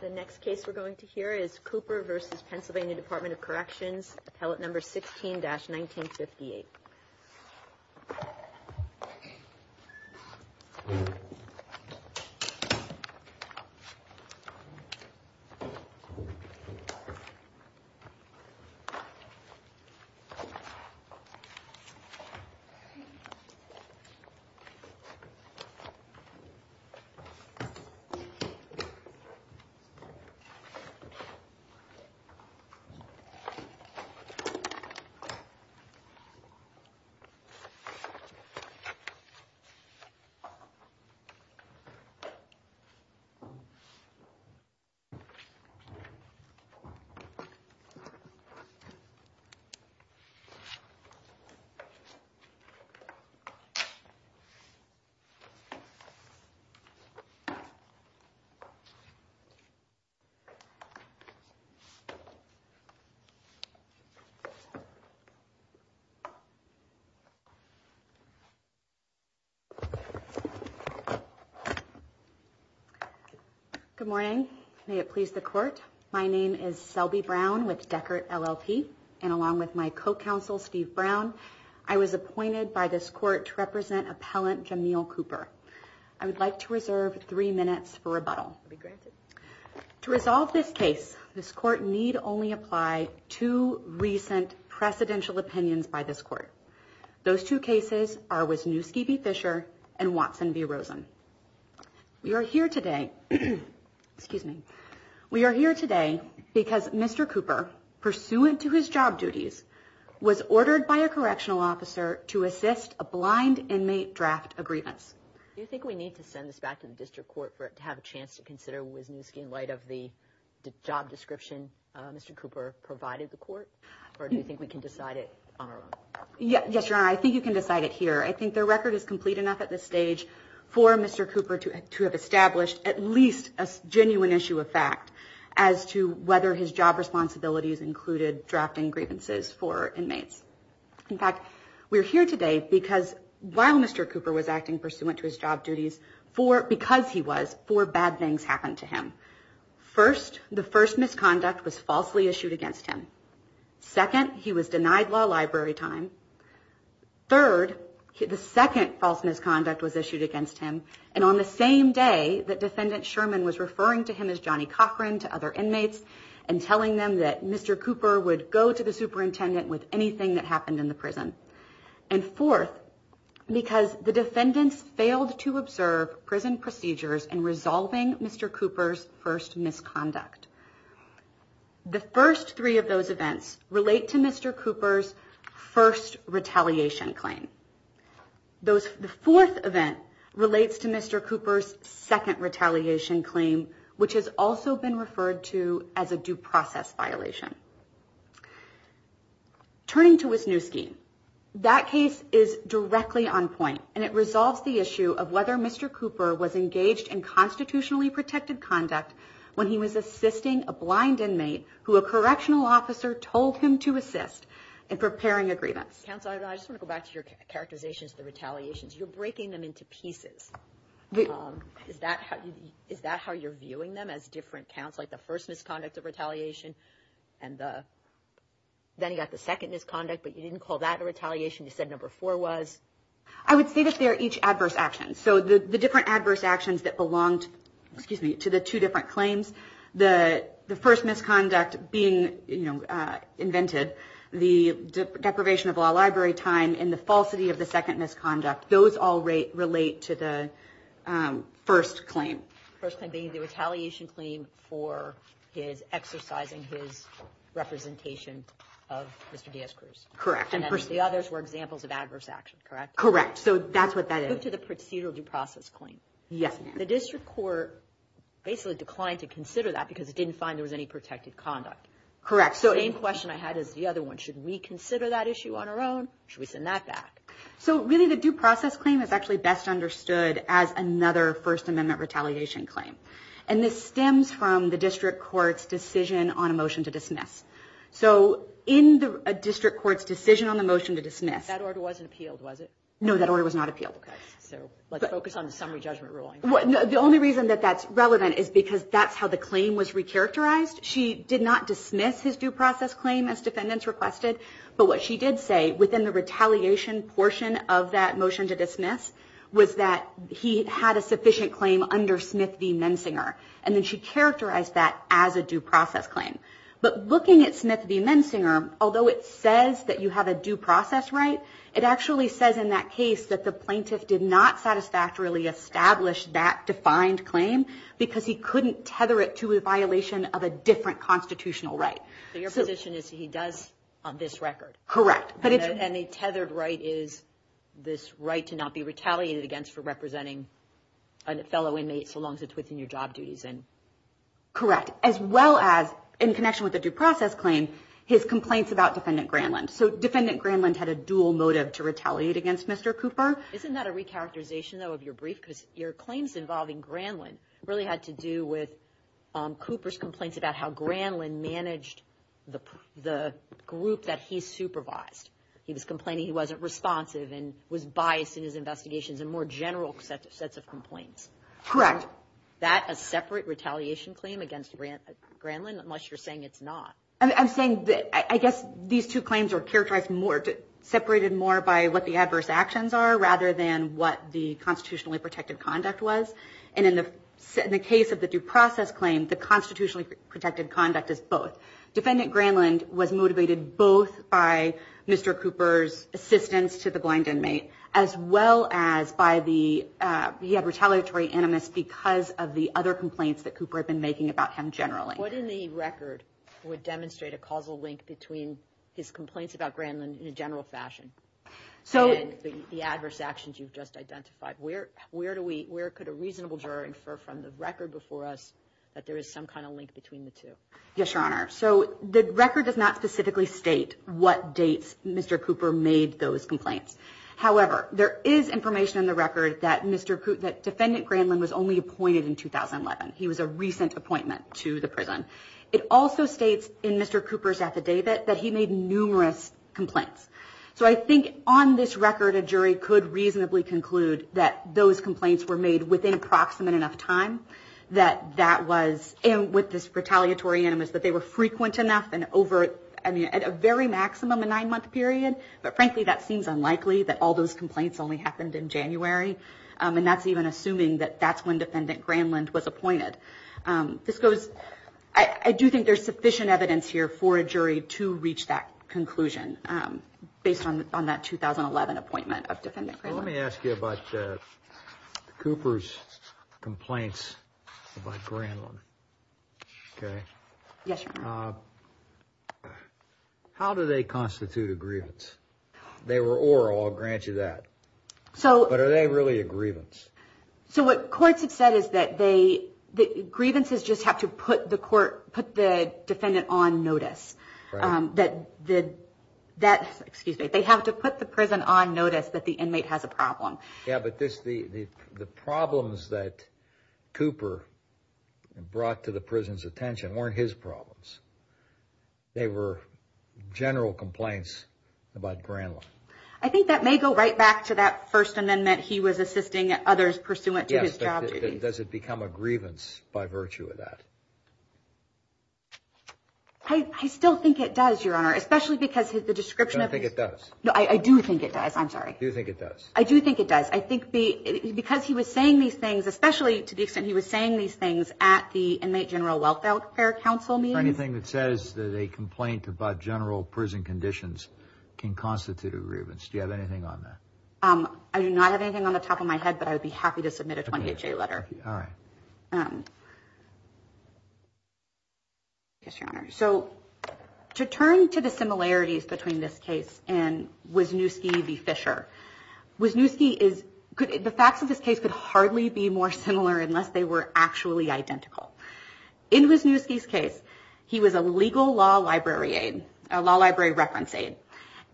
The next case we're going to hear is Cooper v. Pennsylvania Department of Corrections, Appellate No. 16-1958. We're going to hear Cooper v. Appellate No. 16-1958. Good morning. May it please the court. My name is Selby Brown with Deckert LLP, and along with my co-counsel Steve Brown, I was appointed by this court to represent Appellant Jamil Cooper. I would like to reserve three minutes for rebuttal. To resolve this case, this court need only apply two recent presidential opinions by this court. Those two cases are Wisniewski v. Fisher and Watson v. Rosen. We are here today because Mr. Cooper, pursuant to his job duties, was ordered by a correctional officer to assist a blind inmate draft a grievance. Do you think we need to send this back to the district court to have a chance to consider Wisniewski in light of the job description Mr. Cooper provided the court, or do you think we can decide it on our own? Yes, Your Honor, I think you can decide it here. I think the record is complete enough at this stage for Mr. Cooper to have established at least a genuine issue of fact as to whether his job responsibilities included drafting grievances for inmates. In fact, we're here today because while Mr. Cooper was acting pursuant to his job duties, because he was, four bad things happened to him. First, the first misconduct was falsely issued against him. Second, he was denied law library time. Third, the second false misconduct was issued against him. And on the same day, the defendant Sherman was referring to him as Johnny Cochran to other inmates and telling them that Mr. Cooper would go to the superintendent with anything that happened in the prison. And fourth, because the defendants failed to observe prison procedures and resolving Mr. Cooper's first misconduct. The first three of those events relate to Mr. Cooper's first retaliation claim. The fourth event relates to Mr. Cooper's second retaliation claim, which has also been referred to as a due process violation. Turning to Wisniewski, that case is directly on point and it resolves the issue of whether Mr. Cooper was engaged in constitutionally protected conduct when he was assisting a blind inmate who a correctional officer told him to assist in preparing agreements. Counsel, I just want to go back to your characterizations of the retaliations. You're breaking them into pieces. Is that how you're viewing them as different counts? Like the first misconduct of retaliation and then you got the second misconduct, but you didn't call that a retaliation. You said number four was. I would say that they are each adverse actions, so the different adverse actions that belonged to the two different claims, the first misconduct being invented, the deprivation of law library time and the falsity of the second misconduct. Those all relate to the first claim. First claim being the retaliation claim for his exercising his representation of Mr. Diaz-Cruz. Correct. And then the others were examples of adverse action, correct? Correct. So that's what that is. To the procedural due process claim. Yes, ma'am. The district court basically declined to consider that because it didn't find there was any protected conduct. Correct. So any question I had is the other one. Should we consider that issue on our own? Should we send that back? So really, the due process claim is actually best understood as another First Amendment retaliation claim. And this stems from the district court's decision on a motion to dismiss. So in the district court's decision on the motion to dismiss, that order wasn't appealed, was it? No, that order was not appealed. So let's focus on the summary judgment ruling. The only reason that that's relevant is because that's how the claim was recharacterized. She did not dismiss his due process claim as defendants requested. But what she did say within the retaliation portion of that motion to dismiss was that he had a sufficient claim under Smith v. Mensinger. And then she characterized that as a due process claim. But looking at Smith v. Mensinger, although it says that you have a due process right, it actually says in that case that the plaintiff did not satisfactorily establish that defined claim because he couldn't tether it to a violation of a different constitutional right. So your position is he does this record? Correct. And a tethered right is this right to not be retaliated against for representing a fellow inmate so long as it's within your job duties? Correct. As well as, in connection with the due process claim, his complaints about Defendant Granlund. So Defendant Granlund had a dual motive to retaliate against Mr. Cooper. Isn't that a recharacterization, though, of your brief? Because your claims involving Granlund really had to do with Cooper's complaints about how Granlund managed the group that he supervised. He was complaining he wasn't responsive and was biased in his investigations and more general sets of complaints. Correct. Is that a separate retaliation claim against Granlund, unless you're saying it's not? I'm saying that I guess these two claims are characterized more, separated more by what the adverse actions are rather than what the constitutionally protected conduct was. And in the case of the due process claim, the constitutionally protected conduct is both. Defendant Granlund was motivated both by Mr. Cooper's assistance to the blind inmate, as well as by the retaliatory animus because of the other complaints that Cooper had been making about him generally. What in the record would demonstrate a causal link between his complaints about Granlund in a general fashion and the adverse actions you've just identified? Where could a reasonable juror infer from the record before us that there is some kind of link between the two? Yes, Your Honor. So the record does not specifically state what dates Mr. Cooper made those complaints. However, there is information in the record that Mr. that defendant Granlund was only appointed in 2011. He was a recent appointment to the prison. It also states in Mr. Cooper's affidavit that he made numerous complaints. So I think on this record, a jury could reasonably conclude that those complaints were made within approximate enough time, that that was, and with this retaliatory animus, that they were frequent enough and over, I mean, at a very maximum, a nine-month period. But frankly, that seems unlikely that all those complaints only happened in January. And that's even assuming that that's when Defendant Granlund was appointed. This goes, I do think there's sufficient evidence here for a jury to reach that conclusion based on that 2011 appointment of Defendant Granlund. Let me ask you about Cooper's complaints about Granlund. How do they constitute a grievance? They were oral, I'll grant you that. But are they really a grievance? So what courts have said is that grievances just have to put the defendant on notice. They have to put the prison on notice that the inmate has a problem. Yeah, but the problems that Cooper brought to the prison's attention weren't his problems. They were general complaints about Granlund. I think that may go right back to that First Amendment he was assisting others pursuant to his job duties. Yes, but does it become a grievance by virtue of that? I still think it does, Your Honor, especially because the description of his... I do not have anything on the top of my head, but I would be happy to submit a 28-J letter. All right. Yes, Your Honor. So to turn to the similarities between this case and Wisniewski v. Fisher. The facts of this case could hardly be more similar unless they were actually identical. In Wisniewski's case, he was a legal law library reference aide,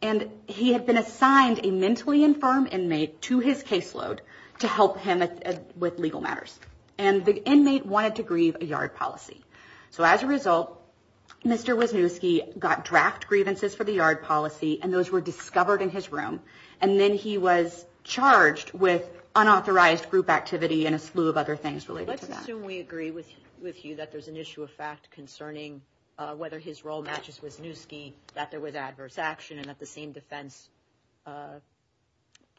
and he had been assigned a mentally infirm inmate to his caseload to help him with legal matters. And the inmate wanted to grieve a yard policy. So as a result, Mr. Wisniewski got draft grievances for the yard policy, and those were discovered in his room. And then he was charged with unauthorized group activity and a slew of other things related to that. I assume we agree with you that there's an issue of fact concerning whether his role matches Wisniewski, that there was adverse action, and at the same defense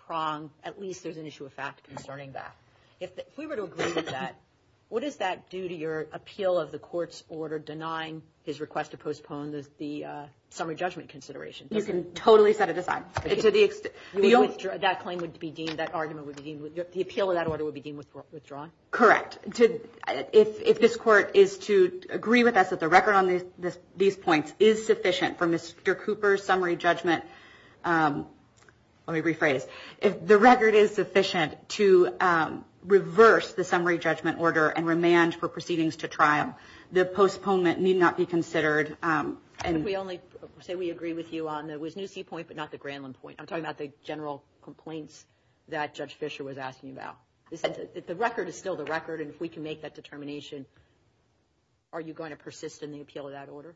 prong, at least there's an issue of fact concerning that. If we were to agree to that, what does that do to your appeal of the court's order denying his request to postpone the summary judgment consideration? You can totally set it aside. That claim would be deemed, that argument would be deemed, the appeal of that order would be deemed withdrawn? Correct. If this Court is to agree with us that the record on these points is sufficient for Mr. Cooper's summary judgment, let me rephrase, if the record is sufficient to reverse the summary judgment order and remand for proceedings to trial, the postponement need not be considered. And if we only say we agree with you on the Wisniewski point but not the Grandland point, I'm talking about the general complaints that Judge Fischer was asking about. If the record is still the record and if we can make that determination, are you going to persist in the appeal of that order?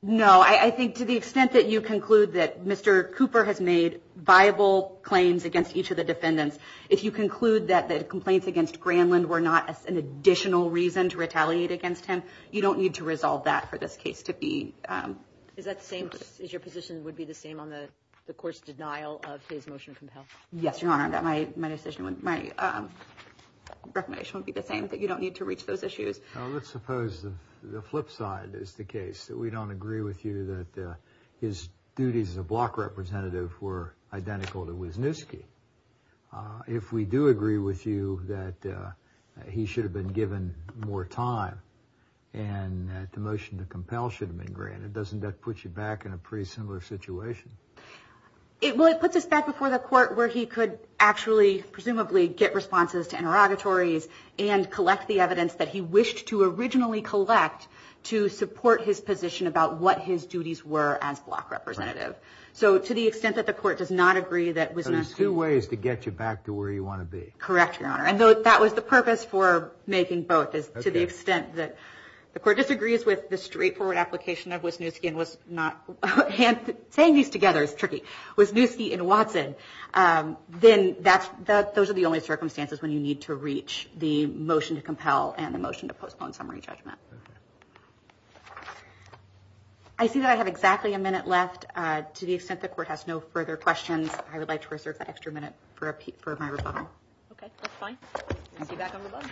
No. I think to the extent that you conclude that Mr. Cooper has made viable claims against each of the defendants, if you conclude that the complaints against Grandland were not an additional reason to retaliate against him, you don't need to resolve that for this case to be. Is that the same, is your position would be the same on the court's denial of his motion to compel? Yes, Your Honor, that my decision, my recommendation would be the same, that you don't need to reach those issues. Let's suppose the flip side is the case, that we don't agree with you that his duties as a block representative were identical to Wisniewski. If we do agree with you that he should have been given more time and that the motion to compel should have been granted, doesn't that put you back in a pretty similar situation? Well, it puts us back before the court where he could actually, presumably, get responses to interrogatories and collect the evidence that he wished to originally collect to support his position about what his duties were as block representative. So to the extent that the court does not agree that Wisniewski... So there's two ways to get you back to where you want to be. Correct, Your Honor. And that was the purpose for making both, is to the extent that the court disagrees with the straightforward application of Wisniewski and was not... Saying these together is tricky. Wisniewski and Watson, then those are the only circumstances when you need to reach the motion to compel and the motion to postpone summary judgment. I see that I have exactly a minute left. To the extent the court has no further questions, I would like to reserve that extra minute for my rebuttal. Okay, that's fine. See you back on the bench.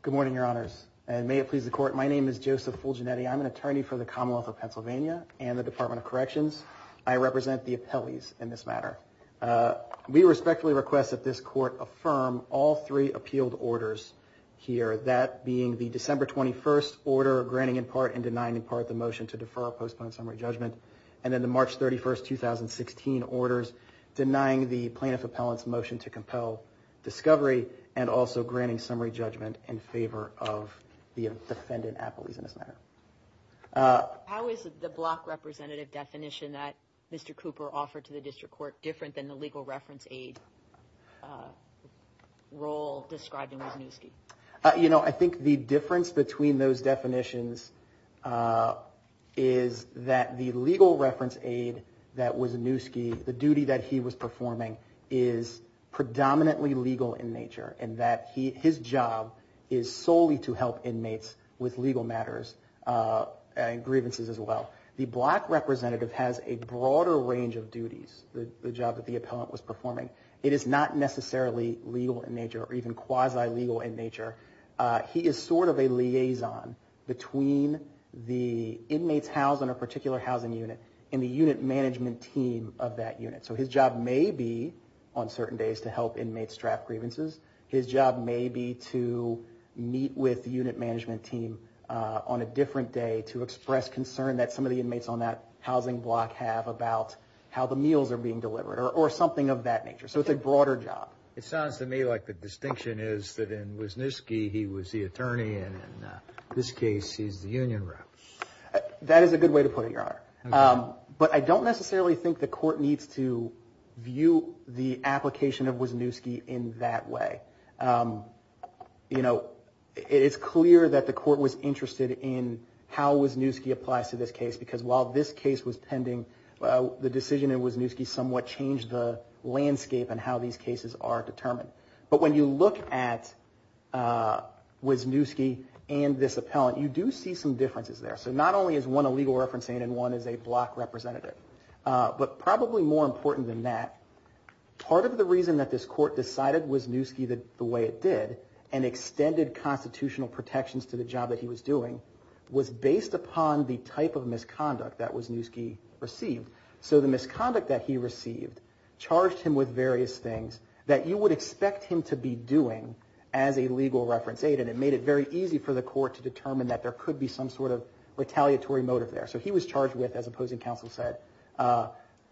Good morning, Your Honors. And may it please the court, my name is Joseph Fulginetti. I'm an attorney for the Commonwealth of Pennsylvania and the Department of Corrections. I represent the appellees in this matter. We respectfully request that this court affirm all three appealed orders here, that being the December 21st order granting in part and denying in part the motion to defer or postpone summary judgment, and then the March 31st, 2016 orders denying the plaintiff appellant's motion to compel discovery and also granting summary judgment in favor of the defendant appellees in this matter. How is the block representative definition that Mr. Cooper offered to the district court different than the legal reference aid role described in Wisniewski? You know, I think the difference between those definitions is that the legal reference aid that Wisniewski, the duty that he was performing is predominantly legal in nature and that his job is solely to help inmates with legal matters and grievances as well. The block representative has a broader range of duties, the job that the appellant was performing. It is not necessarily legal in nature or even quasi legal in nature. He is sort of a liaison between the inmates housed in a particular housing unit and the unit management team of that unit. So his job may be on certain days to help inmates draft grievances. His job may be to meet with the unit management team on a different day to express concern that some of the inmates on that housing block have about how the meals are being delivered or something of that nature. So it's a broader job. It sounds to me like the distinction is that in Wisniewski he was the attorney and in this case he's the union rep. That is a good way to put it, Your Honor. But I don't necessarily think the court needs to view the application of Wisniewski in that way. You know, it's clear that the court was interested in how Wisniewski applies to this case because while this case was pending, the decision in Wisniewski somewhat changed the landscape in how these cases are determined. But when you look at Wisniewski and this appellant, you do see some differences there. So not only is one a legal referencing and one is a block representative, but probably more important than that, part of the reason that this court decided Wisniewski the way it did and extended constitutional protections to the job that he was doing was based upon the type of misconduct that Wisniewski received. So the misconduct that he received charged him with various things that you would expect him to be doing as a legal reference aid and it made it very easy for the court to determine that there could be some sort of retaliatory motive there. So he was charged with, as opposing counsel said,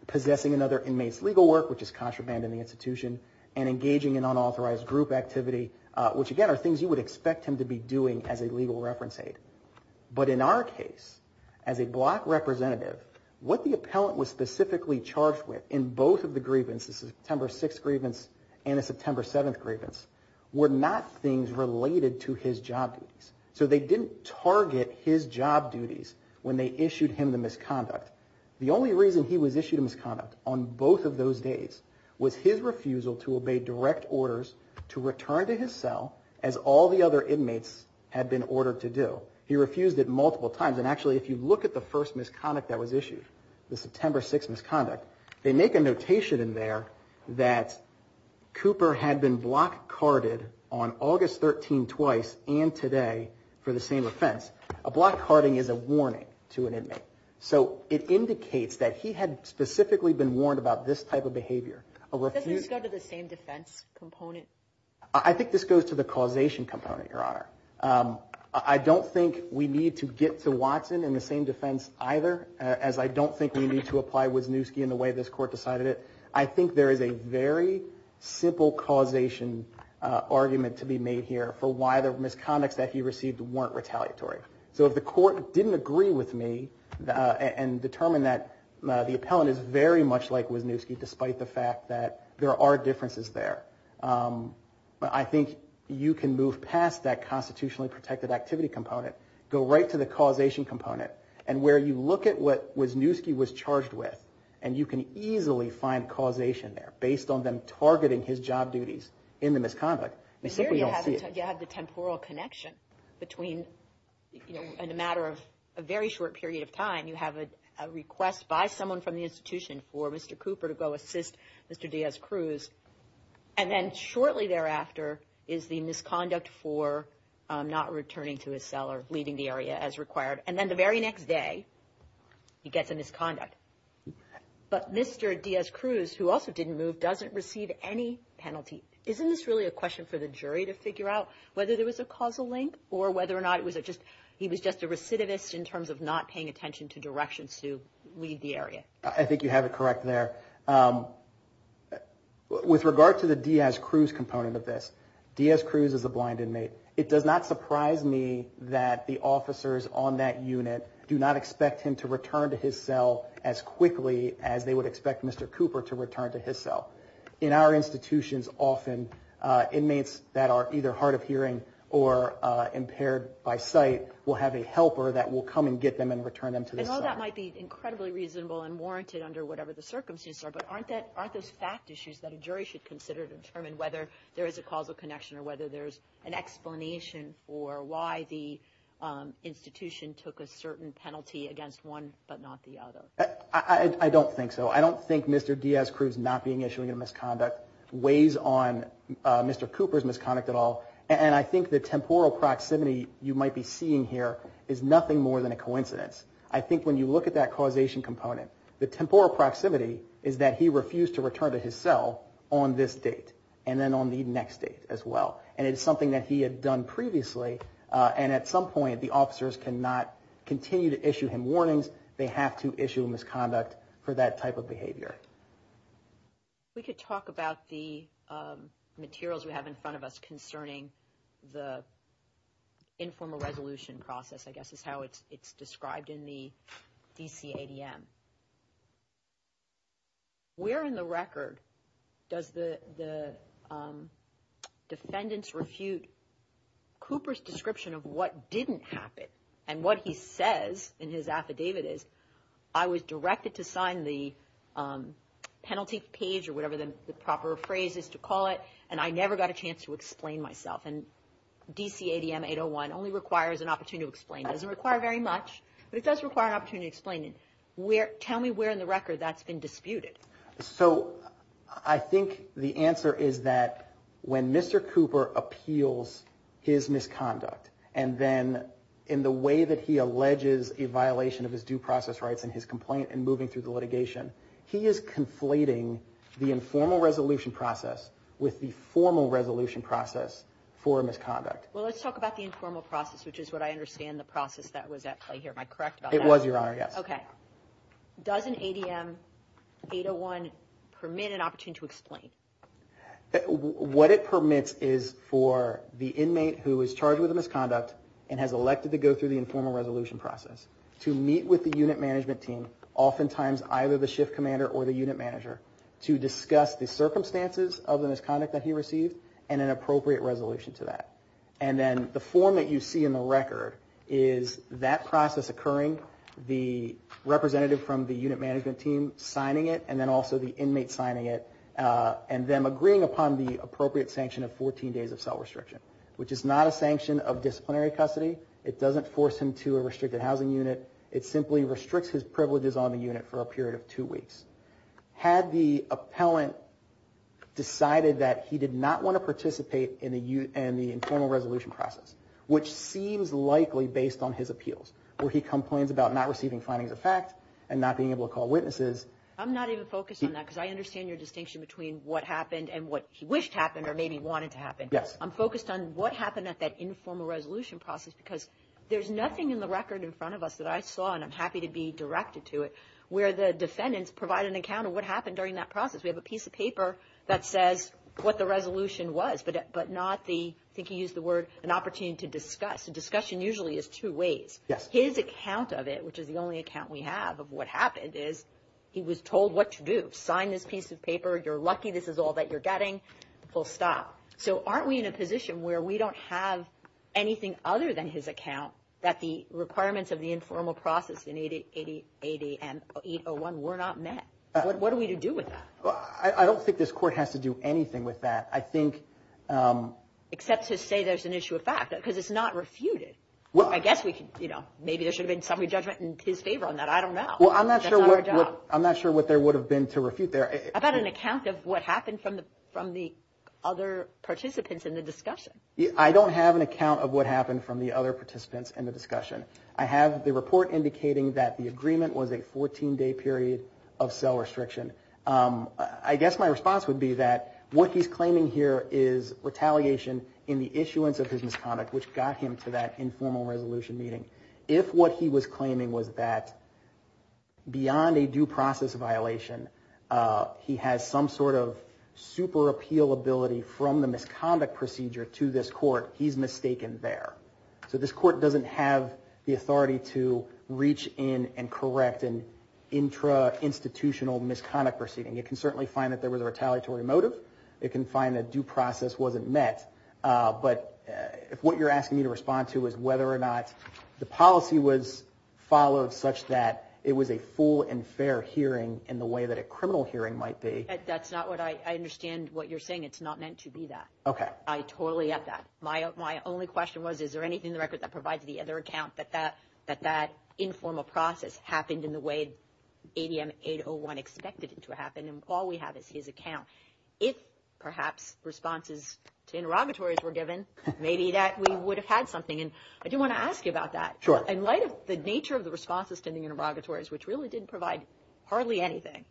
possessing another inmate's legal work, which is contraband in the institution, and engaging in unauthorized group activity, which again are things you would expect him to be doing as a legal reference aid. But in our case, as a block representative, what the appellant was specifically charged with in both of the grievances, the September 6th grievance and the September 7th grievance, were not things related to his job duties. So they didn't target his job duties when they issued him the misconduct. The only reason he was issued a misconduct on both of those days was his refusal to obey direct orders to return to his cell as all the other inmates had been ordered to do. He refused it multiple times, and actually if you look at the first misconduct that was issued, the September 6th misconduct, they make a notation in there that Cooper had been block carded on August 13th twice and today for the same offense. A block carding is a warning to an inmate. So it indicates that he had specifically been warned about this type of behavior. Does this go to the same defense component? I think this goes to the causation component, Your Honor. I don't think we need to get to Watson in the same defense either, as I don't think we need to apply Wisniewski in the way this court decided it. I think there is a very simple causation argument to be made here for why the misconducts that he received weren't retaliatory. So if the court didn't agree with me and determine that the appellant is very much like Wisniewski despite the fact that there are differences there, I think you can move past that constitutionally protected activity component, go right to the causation component, and where you look at what Wisniewski was charged with and you can easily find causation there based on them targeting his job duties in the misconduct. You have the temporal connection between, you know, in a matter of a very short period of time, you have a request by someone from the institution for Mr. Cooper to go assist Mr. Diaz-Cruz, and then shortly thereafter is the misconduct for not returning to his cell or leaving the area as required, and then the very next day he gets a misconduct. But Mr. Diaz-Cruz, who also didn't move, doesn't receive any penalty. Isn't this really a question for the jury to figure out whether there was a causal link or whether or not he was just a recidivist in terms of not paying attention to directions to leave the area? I think you have it correct there. With regard to the Diaz-Cruz component of this, Diaz-Cruz is a blind inmate. It does not surprise me that the officers on that unit do not expect him to return to his cell as quickly as they would expect Mr. Cooper to return to his cell. In our institutions, often inmates that are either hard of hearing or impaired by sight will have a helper that will come and get them and return them to the cell. I know that might be incredibly reasonable and warranted under whatever the circumstances are, but aren't those fact issues that a jury should consider to determine whether there is a causal connection or whether there is an explanation for why the institution took a certain penalty against one but not the other? I don't think so. I don't think Mr. Diaz-Cruz not being issued a misconduct weighs on Mr. Cooper's misconduct at all. And I think the temporal proximity you might be seeing here is nothing more than a coincidence. I think when you look at that causation component, the temporal proximity is that he refused to return to his cell on this date and then on the next date as well. And it's something that he had done previously, and at some point the officers cannot continue to issue him warnings. They have to issue a misconduct for that type of behavior. If we could talk about the materials we have in front of us concerning the informal resolution process, I guess is how it's described in the DCADM. Where in the record does the defendants refute Cooper's description of what didn't happen and what he says in his affidavit is, I was directed to sign the penalty page or whatever the proper phrase is to call it, and I never got a chance to explain myself. And DCADM 801 only requires an opportunity to explain. It doesn't require very much, but it does require an opportunity to explain. Tell me where in the record that's been disputed. So I think the answer is that when Mr. Cooper appeals his misconduct, and then in the way that he alleges a violation of his due process rights in his complaint and moving through the litigation, he is conflating the informal resolution process with the formal resolution process for a misconduct. Well, let's talk about the informal process, which is what I understand the process that was at play here. Am I correct about that? It was, Your Honor, yes. Okay. Does an ADM 801 permit an opportunity to explain? What it permits is for the inmate who is charged with a misconduct and has elected to go through the informal resolution process to meet with the unit management team, oftentimes either the shift commander or the unit manager, to discuss the circumstances of the misconduct that he received and an appropriate resolution to that. And then the form that you see in the record is that process occurring, the representative from the unit management team signing it, and then also the inmate signing it, and them agreeing upon the appropriate sanction of 14 days of cell restriction, which is not a sanction of disciplinary custody. It doesn't force him to a restricted housing unit. It simply restricts his privileges on the unit for a period of two weeks. Had the appellant decided that he did not want to participate in the informal resolution process, which seems likely based on his appeals, where he complains about not receiving findings of fact and not being able to call witnesses. I'm not even focused on that because I understand your distinction between what happened and what he wished happened or maybe wanted to happen. Yes. I'm focused on what happened at that informal resolution process because there's nothing in the record in front of us that I saw, and I'm happy to be directed to it, where the defendants provide an account of what happened during that process. We have a piece of paper that says what the resolution was, but not the, I think you used the word, an opportunity to discuss. Discussion usually is two ways. Yes. His account of it, which is the only account we have of what happened, is he was told what to do. Sign this piece of paper. You're lucky this is all that you're getting. Pull stop. So aren't we in a position where we don't have anything other than his account that the requirements of the informal process in 8080 and 801 were not met? What are we to do with that? I don't think this court has to do anything with that, I think. Except to say there's an issue of fact because it's not refuted. Well. I guess we could, you know, maybe there should have been somebody's judgment in his favor on that. I don't know. Well, I'm not sure what there would have been to refute there. How about an account of what happened from the other participants in the discussion? I don't have an account of what happened from the other participants in the discussion. I have the report indicating that the agreement was a 14-day period of cell restriction. I guess my response would be that what he's claiming here is retaliation in the issuance of his misconduct, which got him to that informal resolution meeting. If what he was claiming was that beyond a due process violation, he has some sort of super appeal ability from the misconduct procedure to this court, he's mistaken there. So this court doesn't have the authority to reach in and correct an intra-institutional misconduct proceeding. It can certainly find that there was a retaliatory motive. It can find that due process wasn't met. But what you're asking me to respond to is whether or not the policy was followed such that it was a full and fair hearing in the way that a criminal hearing might be. I understand what you're saying. It's not meant to be that. I totally get that. My only question was, is there anything in the record that provides the other account that that informal process happened in the way ADM 801 expected it to happen? And all we have is his account. If, perhaps, responses to interrogatories were given, maybe we would have had something. I do want to ask you about that. In light of the nature of the responses to the interrogatories, which really didn't provide hardly anything,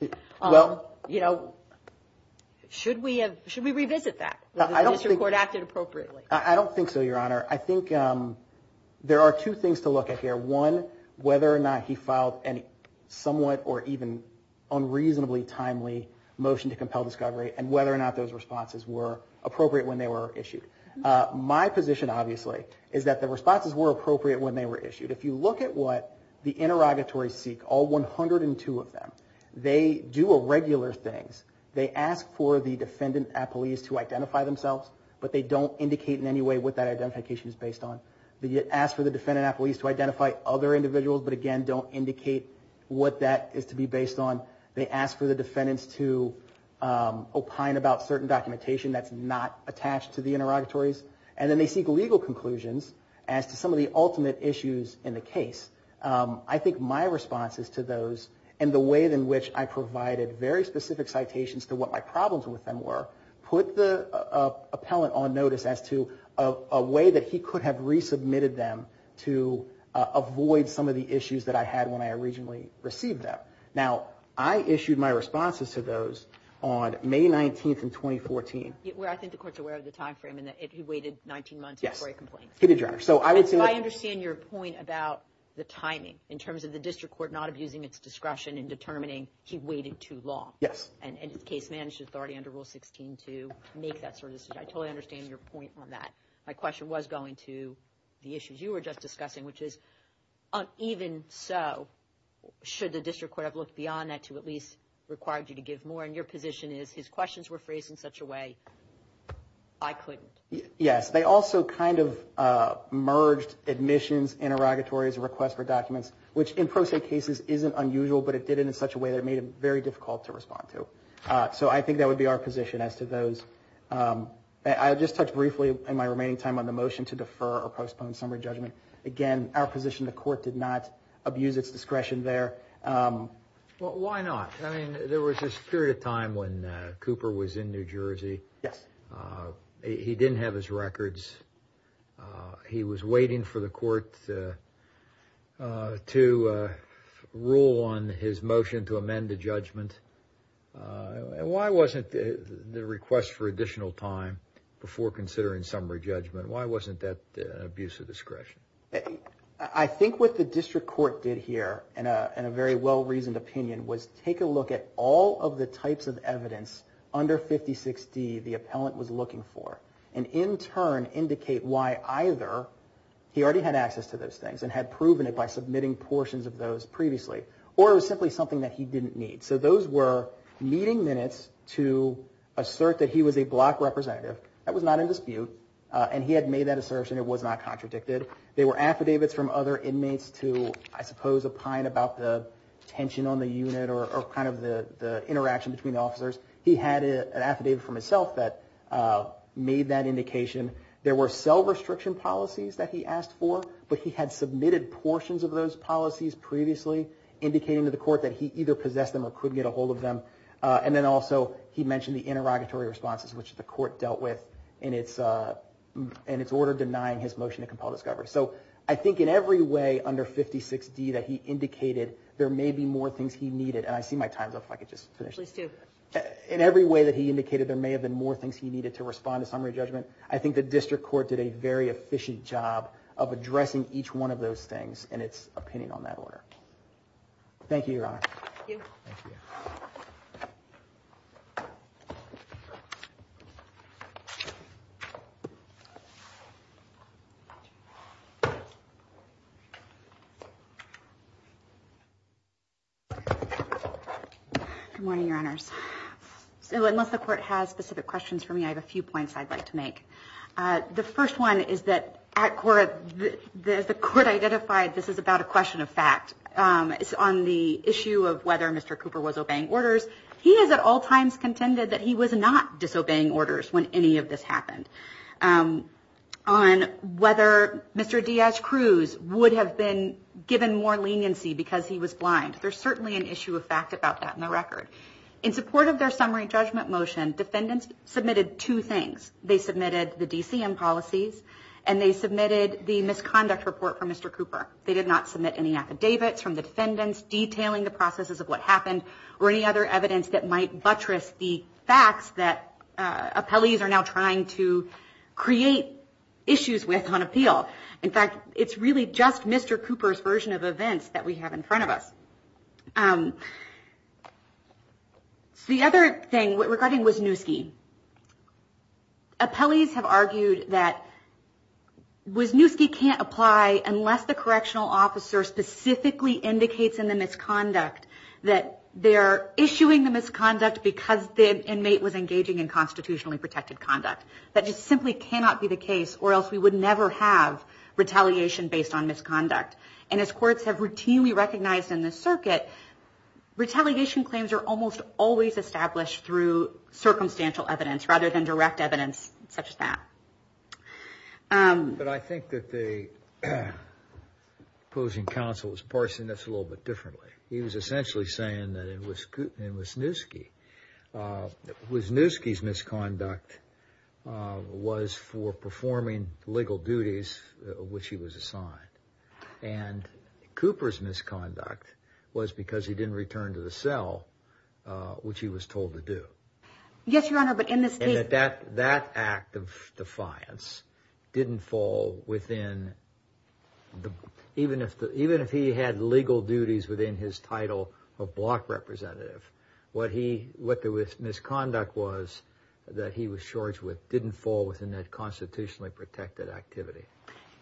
should we revisit that? I don't think so, Your Honor. I think there are two things to look at here. One, whether or not he filed a somewhat or even unreasonably timely motion to compel discovery, and whether or not those responses were appropriate when they were issued. My position, obviously, is that the responses were appropriate when they were issued. If you look at what the interrogatories seek, all 102 of them, they do irregular things. They ask for the defendant at police to identify themselves, but they don't indicate in any way what that identification is based on. They ask for the defendant at police to identify other individuals, but, again, don't indicate what that is to be based on. They ask for the defendants to opine about certain documentation that's not attached to the interrogatory. And then they seek legal conclusions as to some of the ultimate issues in the case. I think my responses to those, and the way in which I provided very specific citations to what my problems with them were, put the appellant on notice as to a way that he could have resubmitted them to avoid some of the issues that I had when I originally received them. Now, I issued my responses to those on May 19th in 2014. Well, I think the court's aware of the time frame in that he waited 19 months before he complained. Yes, he did, Your Honor. I understand your point about the timing in terms of the district court not abusing its discretion in determining he waited too long. Yes. And his case managed authority under Rule 16 to make that sort of decision. I totally understand your point on that. My question was going to the issues you were just discussing, which is, even so, should the district court have looked beyond that to at least require you to give more? And your position is, his questions were phrased in such a way I couldn't. Yes. They also kind of merged admissions, interrogatories, requests for documents, which in pro se cases isn't unusual, but it did it in such a way that it made it very difficult to respond to. So I think that would be our position as to those. I'll just touch briefly in my remaining time on the motion to defer or postpone summary judgment. Again, our position, the court did not abuse its discretion there. Well, why not? I mean, there was this period of time when Cooper was in New Jersey. Yes. He didn't have his records. He was waiting for the court to rule on his motion to amend the judgment. And why wasn't the request for additional time before considering summary judgment, why wasn't that abuse of discretion? I think what the district court did here, in a very well-reasoned opinion, was take a look at all of the types of evidence under 56D the appellant was looking for, and in turn indicate why either he already had access to those things and had proven it by submitting portions of those previously, or it was simply something that he didn't need. So those were meeting minutes to assert that he was a black representative. That was not in dispute. And he had made that assertion. It was not contradicted. They were affidavits from other inmates to, I suppose, opine about the tension on the unit or kind of the interaction between officers. He had an affidavit from himself that made that indication. There were cell restriction policies that he asked for, but he had submitted portions of those policies previously, indicating to the court that he either possessed them or couldn't get a hold of them. And then also he mentioned the interrogatory responses, which the court dealt with in its order denying his motion to compel discovery. So I think in every way under 56D that he indicated there may be more things he needed, and I see my time's up, if I could just finish. At least two. In every way that he indicated there may have been more things he needed to respond to summary judgment, I think the district court did a very efficient job of addressing each one of those things in its opinion on that order. Thank you, Your Honor. Thank you. Thank you. Good morning, Your Honors. So unless the court has specific questions for me, I have a few points I'd like to make. The first one is that at Cora, the court identified this is about a question of fact. It's on the issue of whether Mr. Cooper was obeying orders. He has at all times contended that he was not disobeying orders. He was not disobeying orders. when any of this happened. On whether Mr. Diaz-Cruz would have been given more leniency because he was blind. There's certainly an issue of fact about that in the record. In support of their summary judgment motion, defendants submitted two things. They submitted the DCM policies, and they submitted the misconduct report from Mr. Cooper. They did not submit any affidavits from the defendants detailing the processes of what happened or any other evidence that might buttress the facts that appellees are now trying to create issues with on appeal. In fact, it's really just Mr. Cooper's version of events that we have in front of us. The other thing regarding Wisniewski, appellees have argued that Wisniewski can't apply unless the correctional officer specifically indicates in the misconduct that they're issuing the misconduct because the inmate was engaging in constitutionally protected conduct. That just simply cannot be the case or else we would never have retaliation based on misconduct. And as courts have routinely recognized in the circuit, retaliation claims are almost always established through circumstantial evidence rather than direct evidence such as that. But I think that the opposing counsel is parsing this a little bit differently. He was essentially saying that in Wisniewski, Wisniewski's misconduct was for performing legal duties of which he was assigned. And Cooper's misconduct was because he didn't return to the cell, which he was told to do. Yes, Your Honor, but in this case... And that act of defiance didn't fall within, even if he had legal duties within his title of block representative, what the misconduct was that he was charged with didn't fall within that constitutionally protected activity.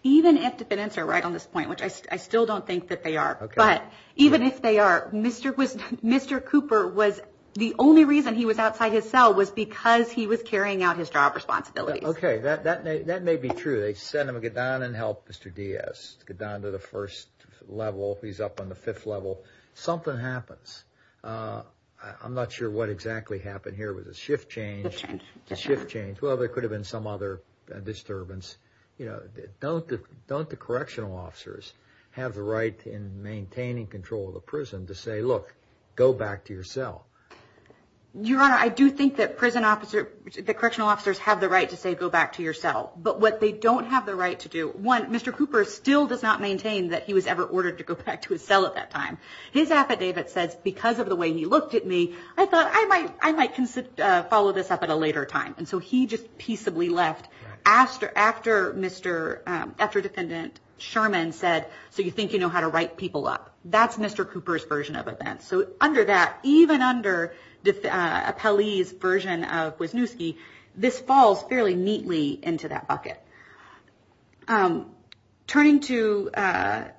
Even if the defendants are right on this point, which I still don't think that they are. But even if they are, Mr. Cooper was... The only reason he was outside his cell was because he was carrying out his job responsibilities. Okay, that may be true. They sent him to get down and help Mr. Diaz to get down to the first level. He's up on the fifth level. Something happens. I'm not sure what exactly happened here. Was it shift change? Shift change. Shift change. Well, there could have been some other disturbance. Don't the correctional officers have the right in maintaining control of the prison to say, look, go back to your cell? Your Honor, I do think that prison officers, that correctional officers have the right to say, go back to your cell. But what they don't have the right to do... One, Mr. Cooper still does not maintain that he was ever ordered to go back to his cell at that time. His affidavit says, because of the way he looked at me, I thought I might follow this up at a later time. And so he just peaceably left after Defendant Sherman said, so you think you know how to write people up? That's Mr. Cooper's version of events. So under that, even under Appellee's version of Wisniewski, this falls fairly neatly into that bucket. Turning to the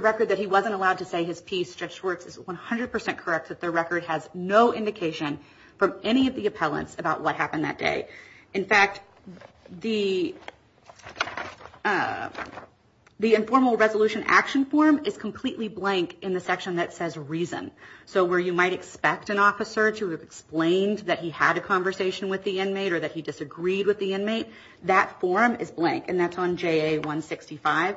record that he wasn't allowed to say his piece, Stretched Words, is 100% correct that the record has no indication from any of the appellants about what happened that day. In fact, the informal resolution action form is completely blank in the section that says reason. So where you might expect an officer to have explained that he had a conversation with the inmate or that he disagreed with the inmate, that form is blank, and that's on JA-165.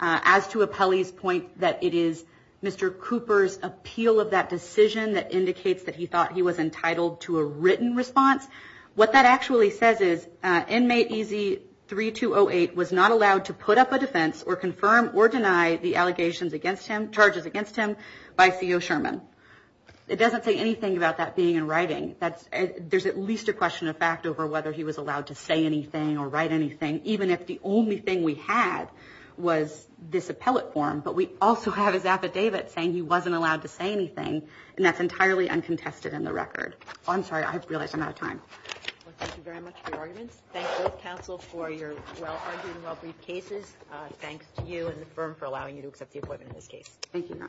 As to Appellee's point that it is Mr. Cooper's appeal of that decision that indicates that he thought he was entitled to a written response, what that actually says is inmate EZ-3208 was not allowed to put up a defense or confirm or deny the allegations against him, charges against him, by CO Sherman. It doesn't say anything about that being in writing. There's at least a question of fact over whether he was allowed to say anything or write anything, even if the only thing we had was this appellate form. But we also have his affidavit saying he wasn't allowed to say anything, and that's entirely uncontested in the record. I'm sorry. I realize I'm out of time. Thank you very much for your arguments. Thank both counsel for your well-argued and well-briefed cases. Thanks to you and the firm for allowing me to accept the appointment in this case. Thank you. Thank you. Thank you.